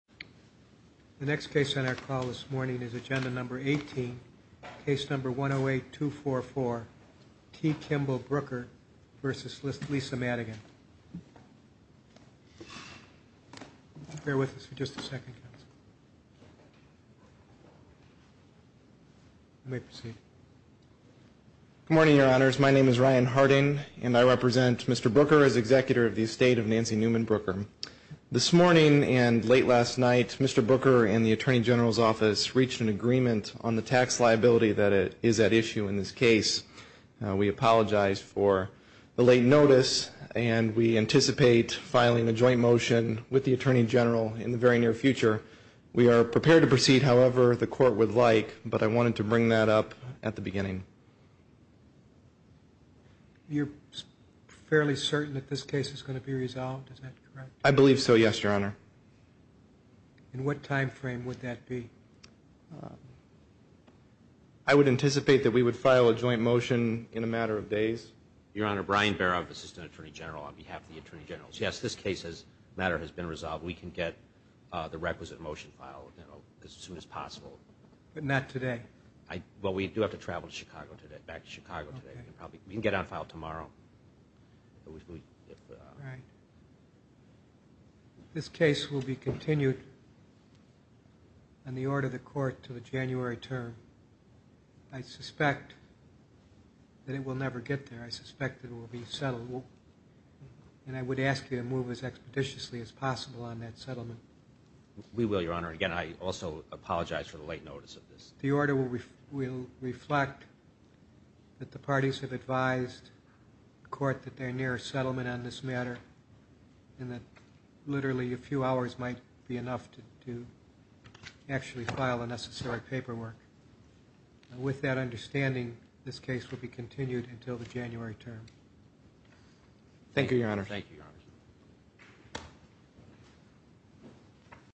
The next case on our call this morning is agenda number 18, case number 108-244, T. Kimball Brooker v. Lisa Madigan. Bear with us for just a second, counsel. You may proceed. Good morning, Your Honors. My name is Ryan Harding, and I represent Mr. Brooker as executor of the estate of Nancy Newman Brooker. This morning and late last night, Mr. Brooker and the attorney general's office reached an agreement on the tax liability that is at issue in this case. We apologize for the late notice, and we anticipate filing a joint motion with the attorney general in the very near future. We are prepared to proceed however the court would like, but I wanted to bring that up at the beginning. You're fairly certain that this case is going to be resolved? Is that correct? I believe so, yes, Your Honor. In what time frame would that be? I would anticipate that we would file a joint motion in a matter of days. Your Honor, Brian Barov, assistant attorney general on behalf of the attorney general. Yes, this case's matter has been resolved. We can get the requisite motion filed as soon as possible. But not today. Well, we do have to travel to Chicago today, back to Chicago today. We can get it on file tomorrow. Right. This case will be continued on the order of the court until the January term. I suspect that it will never get there. I suspect that it will be settled. And I would ask you to move as expeditiously as possible on that settlement. We will, Your Honor. Again, I also apologize for the late notice of this. The order will reflect that the parties have advised the court that they're near a settlement on this matter and that literally a few hours might be enough to actually file the necessary paperwork. With that understanding, this case will be continued until the January term. Thank you, Your Honor. Thank you, Your Honor.